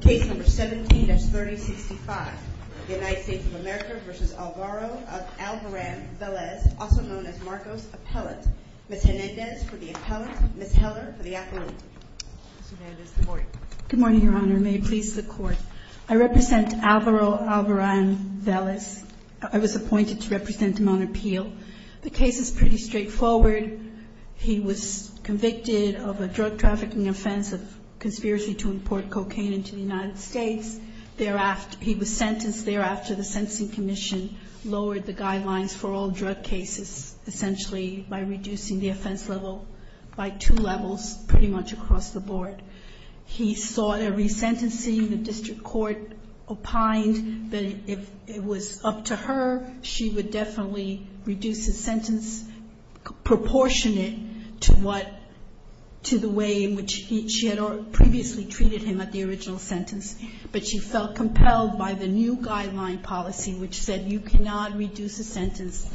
Case number 17-3065. The United States of America v. Alvaro Alvaran-Velez, also known as Marcos Appellant. Ms. Hernandez for the appellant, Ms. Heller for the affidavit. Ms. Hernandez, good morning. Good morning, Your Honor. May it please the Court. I represent Alvaro Alvaran-Velez. I was appointed to represent him on appeal. The case is pretty straightforward. He was convicted of a drug trafficking offense of conspiracy to import cocaine into the United States. He was sentenced thereafter. The Sentencing Commission lowered the guidelines for all drug cases essentially by reducing the offense level by two levels pretty much across the board. He sought a resentencing. The district court opined that if it was up to her, she would definitely reduce his sentence proportionate to what, to the way in which she had previously treated him at the original sentence. But she felt compelled by the new guideline policy which said you cannot reduce a sentence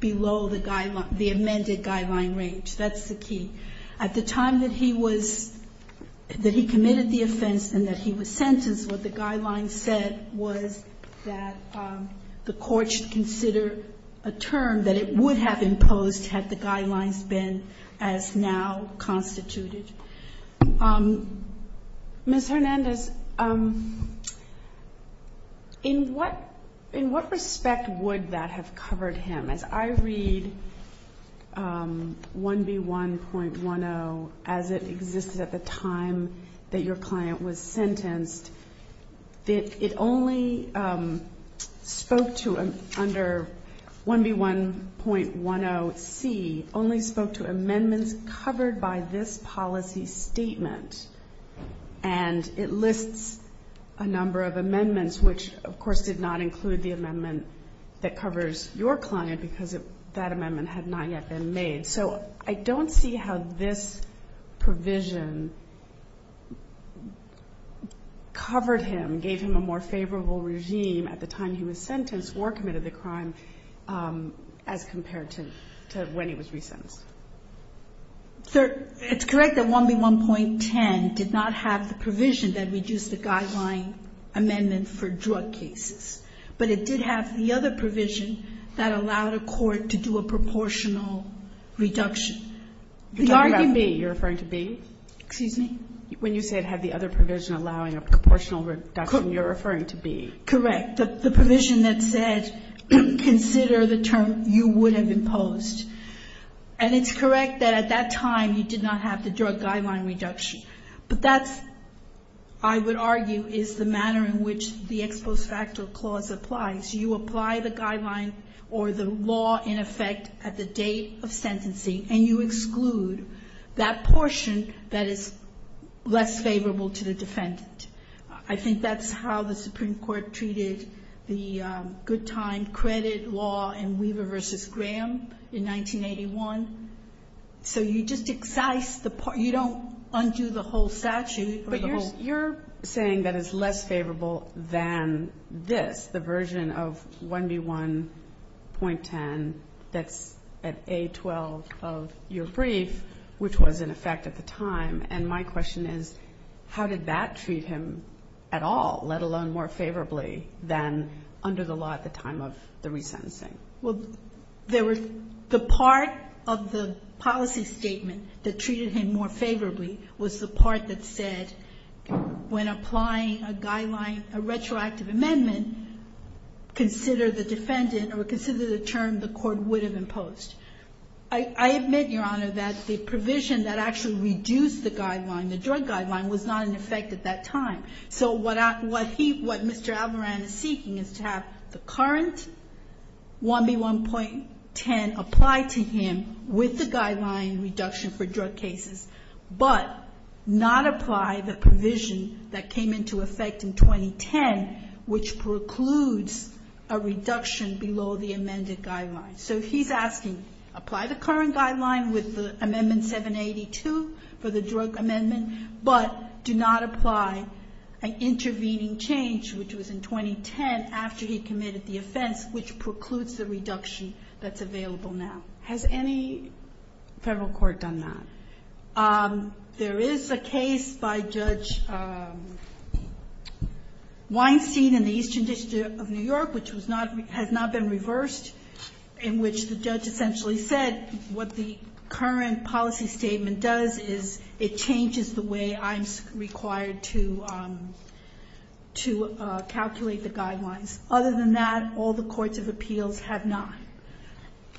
below the guideline, the amended guideline range. That's the key. At the time that he was – that he committed the offense and that he was sentenced, what the guidelines said was that the court should consider a term that it would have imposed had the guidelines been as now constituted. Ms. Hernandez, in what – in what respect would that have covered him? As I read 1B1.10 as it existed at the time that your client was sentenced, it only spoke to under 1B1.10c, only spoke to amendments covered by this policy statement. And it lists a number of amendments which, of course, did not include the amendment that covers your client because that amendment had not yet been made. So I don't see how this provision covered him, gave him a more favorable regime at the time he was sentenced or committed the crime as compared to when he was resentenced. It's correct that 1B1.10 did not have the provision that reduced the guideline amendment for drug cases. But it did have the other provision that allowed a court to do a proportional reduction. You're talking about B. You're referring to B? Excuse me? When you said had the other provision allowing a proportional reduction, you're referring to B. Correct. The provision that said consider the term you would have imposed. And it's correct that at that time you did not have the drug guideline reduction. But that's, I would argue, is the manner in which the ex post facto clause applies. You apply the guideline or the law in effect at the date of sentencing and you exclude that portion that is less favorable to the defendant. I think that's how the Supreme Court treated the good time credit law in Weaver v. Graham in 1981. So you just excise the part. You don't undo the whole statute. But you're saying that it's less favorable than this, the version of 1B1.10 that's at A12 of your brief, which was in effect at the time. And my question is, how did that treat him at all, let alone more favorably than under the law at the time of the resentencing? Well, there were the part of the policy statement that treated him more favorably was the part that said when applying a guideline, a retroactive amendment, consider the defendant or consider the term the court would have imposed. I admit, Your Honor, that the provision that actually reduced the guideline, the drug guideline, was not in effect at that time. So what he, what Mr. Avaloran is seeking is to have the current 1B1.10 apply to him with the guideline reduction for drug cases, but not apply the provision that came into effect in 2010, which precludes a reduction below the amended guideline. So he's asking, apply the current guideline with Amendment 782 for the drug amendment, but do not apply an intervening change, which was in 2010, after he committed the offense, which precludes the reduction that's available now. Has any Federal court done that? There is a case by Judge Weinstein in the Eastern District of New York, which was not been reversed, in which the judge essentially said what the current policy statement does is it changes the way I'm required to calculate the guidelines. Other than that, all the courts of appeals have not.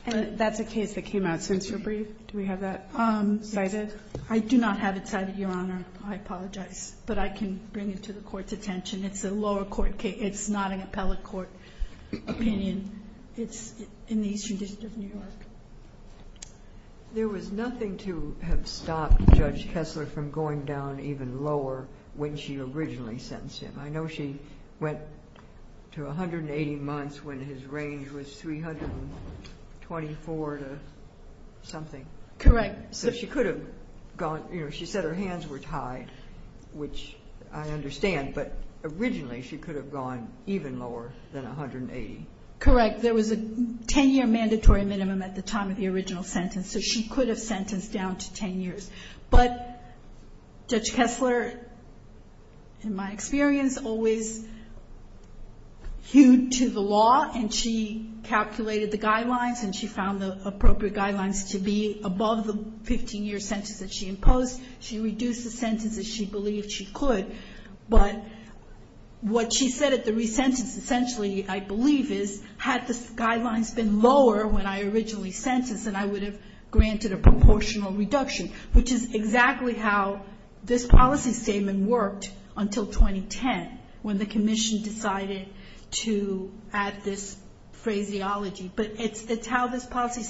And that's a case that came out since your brief. Do we have that cited? I do not have it cited, Your Honor. I apologize. But I can bring it to the Court's attention. It's a lower court case. It's not an appellate court. In my opinion, it's in the Eastern District of New York. There was nothing to have stopped Judge Kessler from going down even lower when she originally sentenced him. I know she went to 180 months when his range was 324 to something. Correct. So she could have gone — you know, she said her hands were tied, which I understand. But originally, she could have gone even lower than 180. Correct. There was a 10-year mandatory minimum at the time of the original sentence. So she could have sentenced down to 10 years. But Judge Kessler, in my experience, always hewed to the law, and she calculated the guidelines, and she found the appropriate guidelines to be above the 15-year sentence that she imposed. She reduced the sentence, as she believed she could. But what she said at the re-sentence, essentially, I believe, is, had the guidelines been lower when I originally sentenced, then I would have granted a proportional reduction, which is exactly how this policy statement worked until 2010, when the commission decided to add this phraseology. But it's how this policy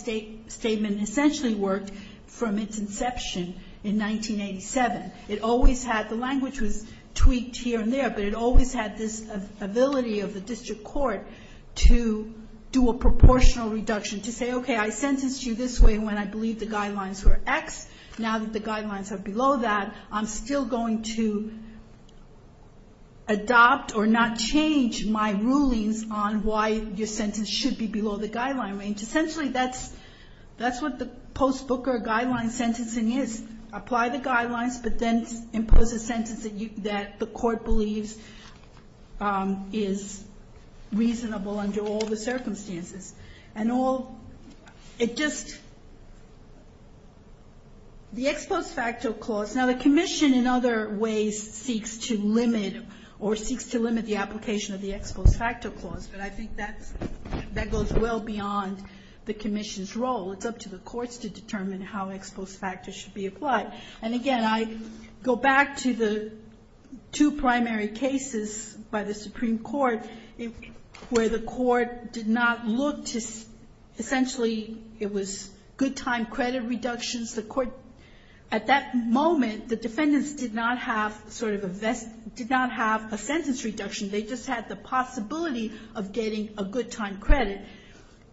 statement essentially worked from its inception in 1987. It always had — the language was tweaked here and there, but it always had this ability of the district court to do a proportional reduction, to say, okay, I sentenced you this way when I believed the guidelines were X. Now that the guidelines are below that, I'm still going to adopt or not change my rulings on why your sentence should be below the guideline range. Essentially, that's what the post-Booker guideline sentencing is. Apply the guidelines, but then impose a sentence that the court believes is reasonable under all the circumstances. And all — it just — the ex post facto clause. Now, the commission, in other ways, seeks to limit or seeks to limit the application of the ex post facto clause, but I think that goes well beyond the commission's role. It's up to the courts to determine how ex post facto should be applied. And, again, I go back to the two primary cases by the Supreme Court where the court did not look to — essentially, it was good time credit reductions. The court — at that moment, the defendants did not have sort of a — did not have a sentence reduction. They just had the possibility of getting a good time credit.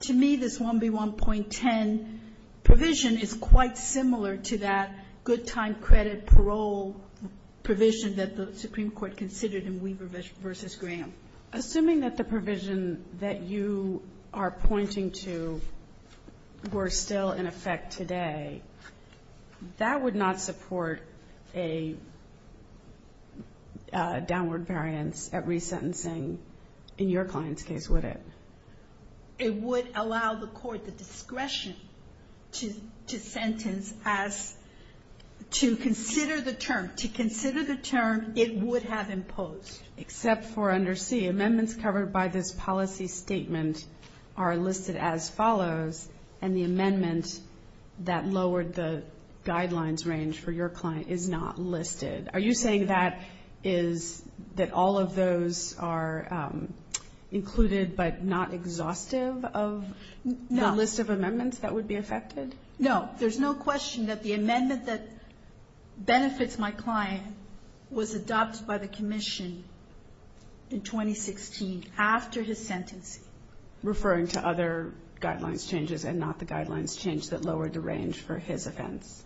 To me, this 1B1.10 provision is quite similar to that good time credit parole provision that the Supreme Court considered in Weaver v. Graham. Assuming that the provision that you are pointing to were still in effect today, that would not support a downward variance at resentencing in your client's case, would it? It would allow the court the discretion to sentence as — to consider the term. To consider the term it would have imposed. Except for under C, amendments covered by this policy statement are listed as follows, and the amendment that lowered the guidelines range for your client is not listed. Are you saying that is — that all of those are included but not exhaustive of the list of amendments that would be affected? No. There's no question that the amendment that benefits my client was adopted by the commission in 2016 after his sentencing. Referring to other guidelines changes and not the guidelines change that lowered the range for his offense.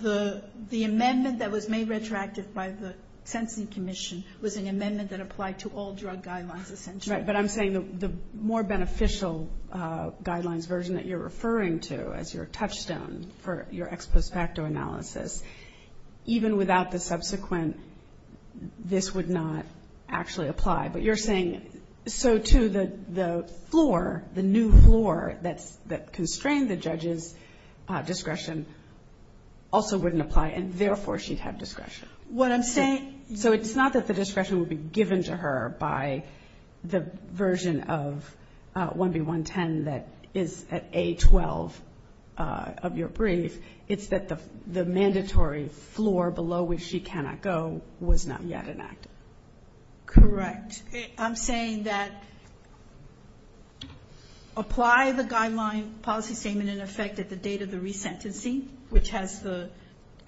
The amendment that was made retroactive by the sentencing commission was an amendment that applied to all drug guidelines essentially. Right. But I'm saying the more beneficial guidelines version that you're referring to as your touchstone for your ex post facto analysis, even without the subsequent this would not actually apply. But you're saying so, too, the floor, the new floor that's — that constrained the judge's discretion also wouldn't apply and therefore she'd have discretion. What I'm saying — So it's not that the discretion would be given to her by the version of 1B110 that is at A12 of your brief. It's that the mandatory floor below which she cannot go was not yet enacted. Correct. I'm saying that apply the guideline policy statement in effect at the date of the resentencing, which has the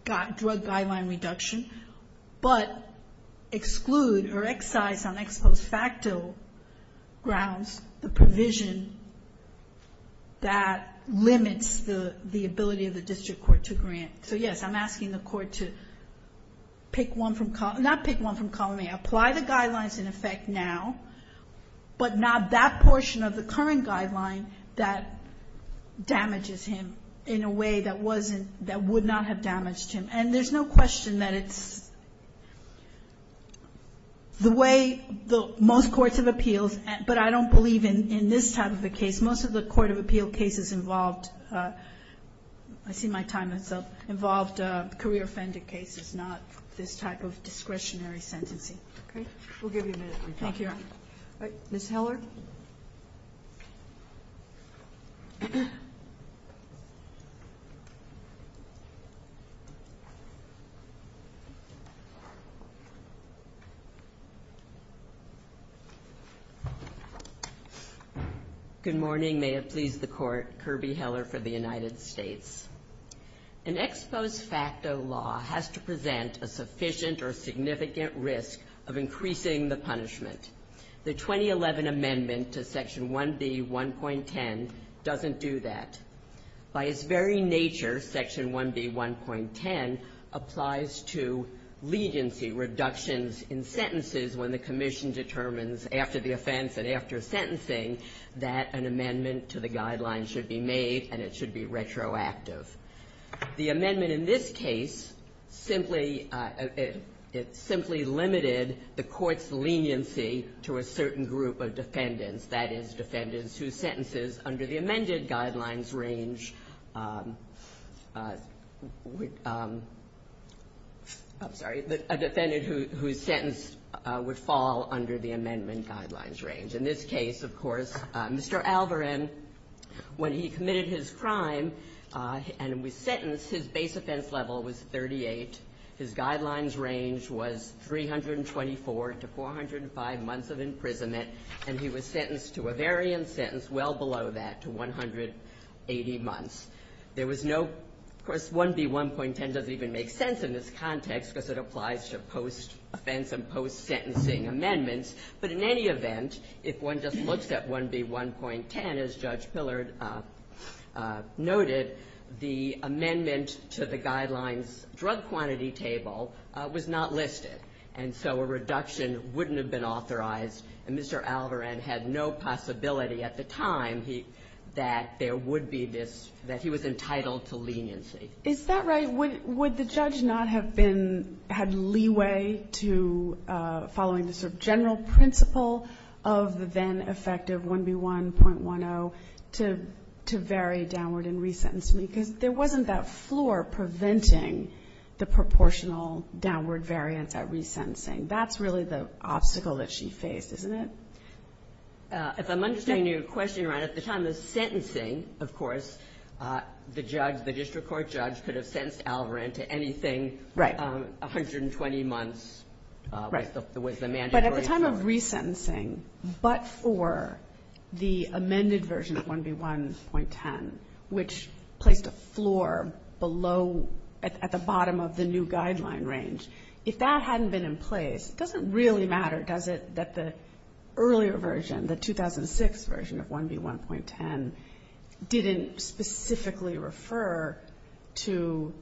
drug guideline reduction, but exclude or excise on ex post facto grounds the provision that limits the ability of the district court to grant. So, yes, I'm asking the court to pick one from — not pick one from column A. Apply the guidelines in effect now, but not that portion of the current guideline that damages him in a way that wasn't — that would not have damaged him. And there's no question that it's the way most courts of appeals — but I don't believe in this type of a case. Most of the court of appeal cases involved — I see my time is up — Okay. We'll give you a minute. Thank you. Ms. Heller? Good morning. May it please the Court. Kirby Heller for the United States. An ex post facto law has to present a sufficient or significant risk of increasing the punishment. The 2011 amendment to Section 1B1.10 doesn't do that. By its very nature, Section 1B1.10 applies to legency reductions in sentences when the commission determines after the offense and after sentencing that an amendment to the guidelines should be made and it should be retroactive. The amendment in this case simply — it simply limited the court's leniency to a certain group of defendants, that is, defendants whose sentences under the amended guidelines range — I'm sorry — a defendant whose sentence would fall under the amendment guidelines range. In this case, of course, Mr. Alvorin, when he committed his crime and was sentenced, his base offense level was 38. His guidelines range was 324 to 405 months of imprisonment, and he was sentenced to a variant sentence well below that, to 180 months. There was no — of course, 1B1.10 doesn't even make sense in this context because it applies to post-offense and post-sentencing amendments. But in any event, if one just looks at 1B1.10, as Judge Pillard noted, the amendment to the guidelines drug quantity table was not listed, and so a reduction wouldn't have been authorized, and Mr. Alvorin had no possibility at the time that there would be this — that he was entitled to leniency. Is that right? Would the judge not have been — had leeway to following the sort of general principle of the then-effective 1B1.10 to vary downward in resentencing? Because there wasn't that floor preventing the proportional downward variance at resentencing. That's really the obstacle that she faced, isn't it? If I'm understanding your question right, at the time of the sentencing, of course, the judge, the district court judge, could have sentenced Alvorin to anything 120 months with the mandatory sentence. Right. But at the time of resentencing, but for the amended version of 1B1.10, which placed a floor below — at the bottom of the new guideline range, if that hadn't been in place, does it really matter, does it, that the earlier version, the 2006 version of 1B1.10 didn't specifically refer to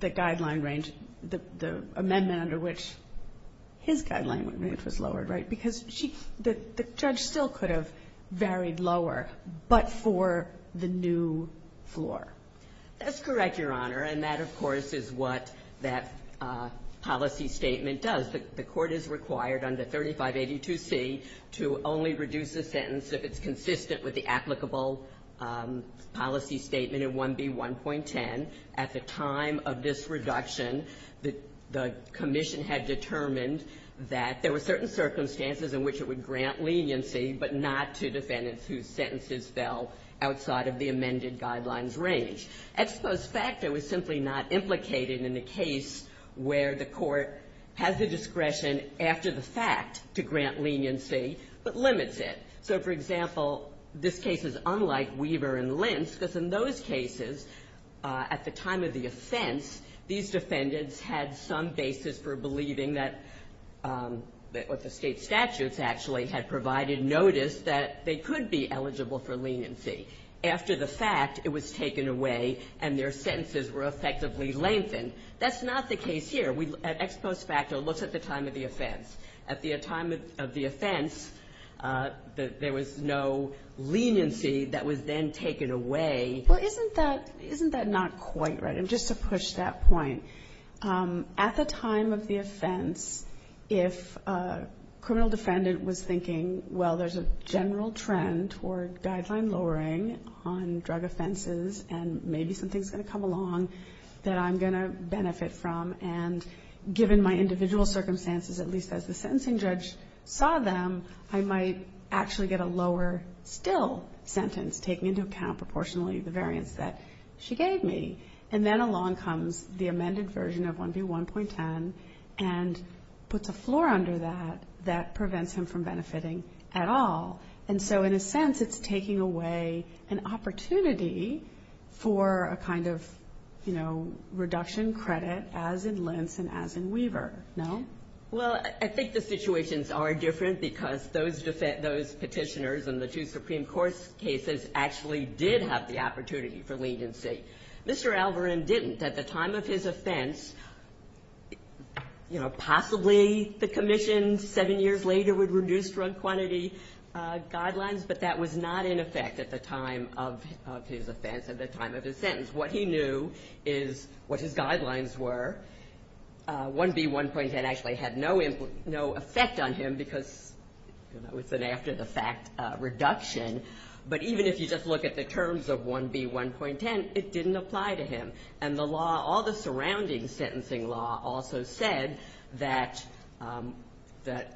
the guideline range, the amendment under which his guideline range was lowered, right? Because she — the judge still could have varied lower, but for the new floor. That's correct, Your Honor. And that, of course, is what that policy statement does. The court is required under 3582C to only reduce a sentence if it's consistent with the applicable policy statement in 1B1.10. At the time of this reduction, the commission had determined that there were certain circumstances in which it would grant leniency, but not to defendants whose sentences fell outside of the amended guidelines range. At supposed fact, it was simply not implicated in the case where the court has the discretion after the fact to grant leniency, but limits it. So, for example, this case is unlike Weaver and Lentz, because in those cases, at the time of the offense, these defendants had some basis for believing that the state statutes actually had provided notice that they could be eligible for leniency. After the fact, it was taken away, and their sentences were effectively lengthened. That's not the case here. At ex post facto, it looks at the time of the offense. At the time of the offense, there was no leniency that was then taken away. Well, isn't that not quite right? And just to push that point, at the time of the offense, if a criminal defendant was thinking, well, there's a general trend toward guideline lowering on drug offenses and maybe something's going to come along that I'm going to benefit from, and given my individual circumstances, at least as the sentencing judge saw them, I might actually get a lower still sentence, taking into account proportionally the variance that she gave me. And then along comes the amended version of 1B1.10 and puts a floor under that that prevents him from benefiting at all. And so, in a sense, it's taking away an opportunity for a kind of, you know, as in Lentz and as in Weaver, no? Well, I think the situations are different because those petitioners and the two Supreme Court cases actually did have the opportunity for leniency. Mr. Alvorin didn't. At the time of his offense, you know, possibly the commission seven years later would reduce drug quantity guidelines, but that was not in effect at the time of his offense, at the time of his sentence. What he knew is what his guidelines were. 1B1.10 actually had no effect on him because, you know, it's an after-the-fact reduction. But even if you just look at the terms of 1B1.10, it didn't apply to him. And the law, all the surrounding sentencing law also said that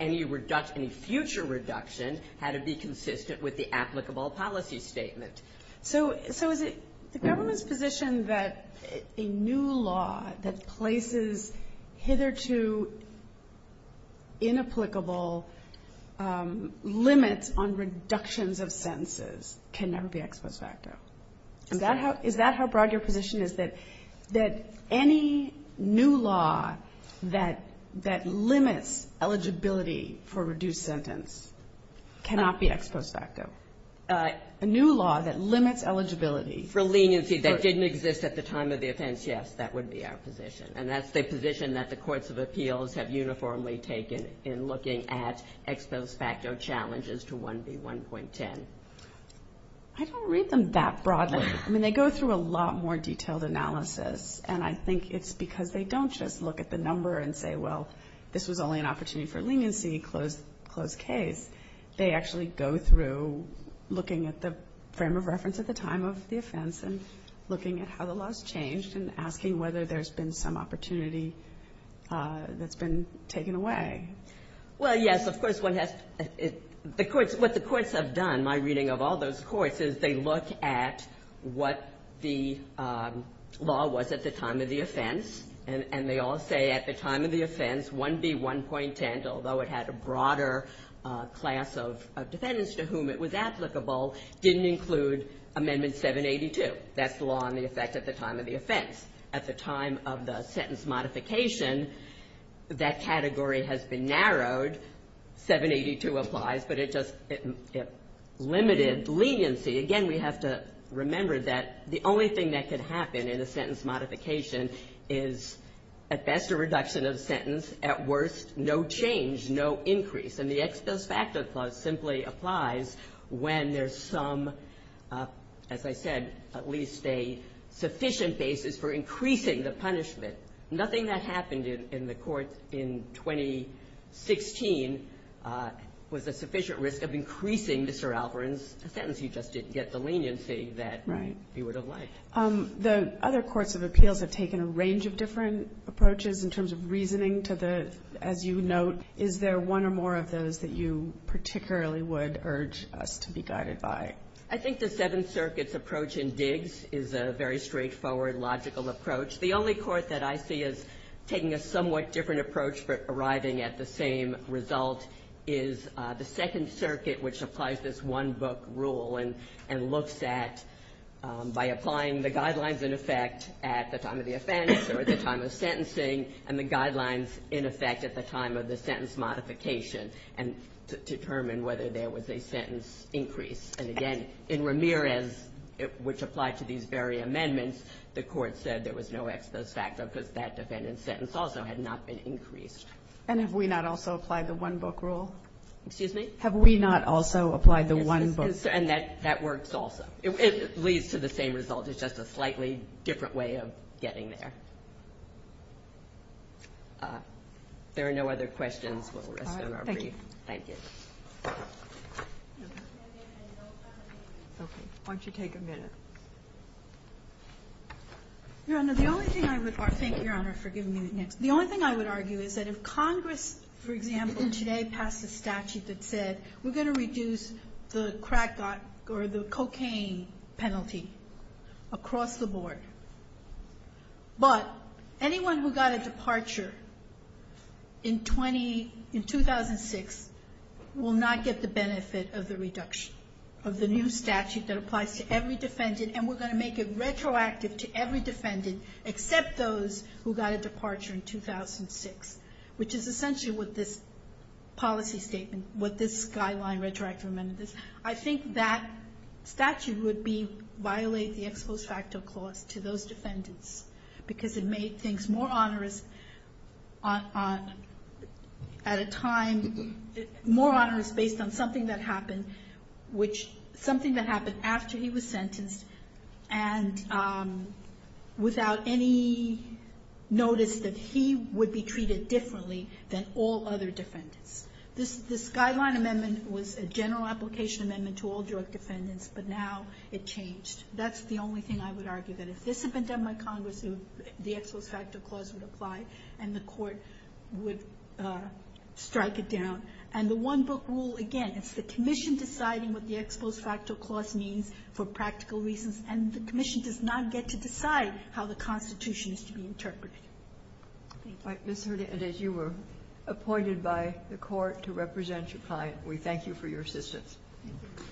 any future reduction had to be consistent with the applicable policy statement. Perfect. So is it the government's position that a new law that places hitherto inapplicable limits on reductions of sentences can never be ex post facto? Is that how broad your position is, that any new law that limits eligibility for reduced sentence cannot be ex post facto? A new law that limits eligibility. For leniency that didn't exist at the time of the offense, yes, that would be our position. And that's the position that the courts of appeals have uniformly taken in looking at ex post facto challenges to 1B1.10. I don't read them that broadly. I mean, they go through a lot more detailed analysis, and I think it's because they don't just look at the number and say, well, this was only an opportunity for leniency, closed case. They actually go through looking at the frame of reference at the time of the offense and looking at how the law's changed and asking whether there's been some opportunity that's been taken away. Well, yes, of course, one has to the courts. What the courts have done, my reading of all those courts, is they look at what the law was at the time of the offense, and they all say at the time of the offense 1B1.10, although it had a broader class of defendants to whom it was applicable, didn't include Amendment 782. That's the law on the effect at the time of the offense. At the time of the sentence modification, that category has been narrowed. 782 applies, but it just limited leniency. Again, we have to remember that the only thing that could happen in a sentence modification is at best a reduction of the sentence, at worst no change, no increase. And the ex post facto clause simply applies when there's some, as I said, at least a sufficient basis for increasing the punishment. Nothing that happened in the Court in 2016 was a sufficient risk of increasing Mr. Alvarez's sentence. He just didn't get the leniency that he would have liked. The other courts of appeals have taken a range of different approaches in terms of reasoning to the, as you note. Is there one or more of those that you particularly would urge us to be guided by? I think the Seventh Circuit's approach in Diggs is a very straightforward, logical approach. The only court that I see as taking a somewhat different approach for arriving at the same result is the Second Circuit, which applies this one-book rule and looks at, by applying the guidelines in effect at the time of the offense or the time of sentencing, and the guidelines in effect at the time of the sentence modification and determine whether there was a sentence increase. And again, in Ramirez, which applied to these very amendments, the Court said there was no ex post facto because that defendant's sentence also had not been increased. And have we not also applied the one-book rule? Excuse me? Have we not also applied the one-book rule? And that works also. It leads to the same result. It's just a slightly different way of getting there. If there are no other questions, we'll rest on our brief. Thank you. Thank you. Okay. Why don't you take a minute? Your Honor, the only thing I would argue, thank you, Your Honor, for giving me the next. The only thing I would argue is that if Congress, for example, today passed a statute that said we're going to reduce the crack or the cocaine penalty across the board, but anyone who got a departure in 2006 will not get the benefit of the reduction of the new statute that applies to every defendant, and we're going to make it retroactive to every defendant except those who got a departure in 2006, which is essentially what this policy statement, what this guideline retroactive amendment is. I think that statute would violate the ex post facto clause to those defendants because it made things more onerous at a time, more onerous based on something that happened, which something that happened after he was sentenced and without any notice that he would be treated differently than all other defendants. This guideline amendment was a general application amendment to all drug defendants, but now it changed. That's the only thing I would argue, that if this had been done by Congress, the ex post facto clause would apply and the court would strike it down. And the one book rule, again, it's the commission deciding what the ex post facto clause means for practical reasons, and the commission does not get to decide how the Constitution is to be interpreted. Thank you. Kagan, as you were appointed by the court to represent your client, we thank you for your assistance. Thank you.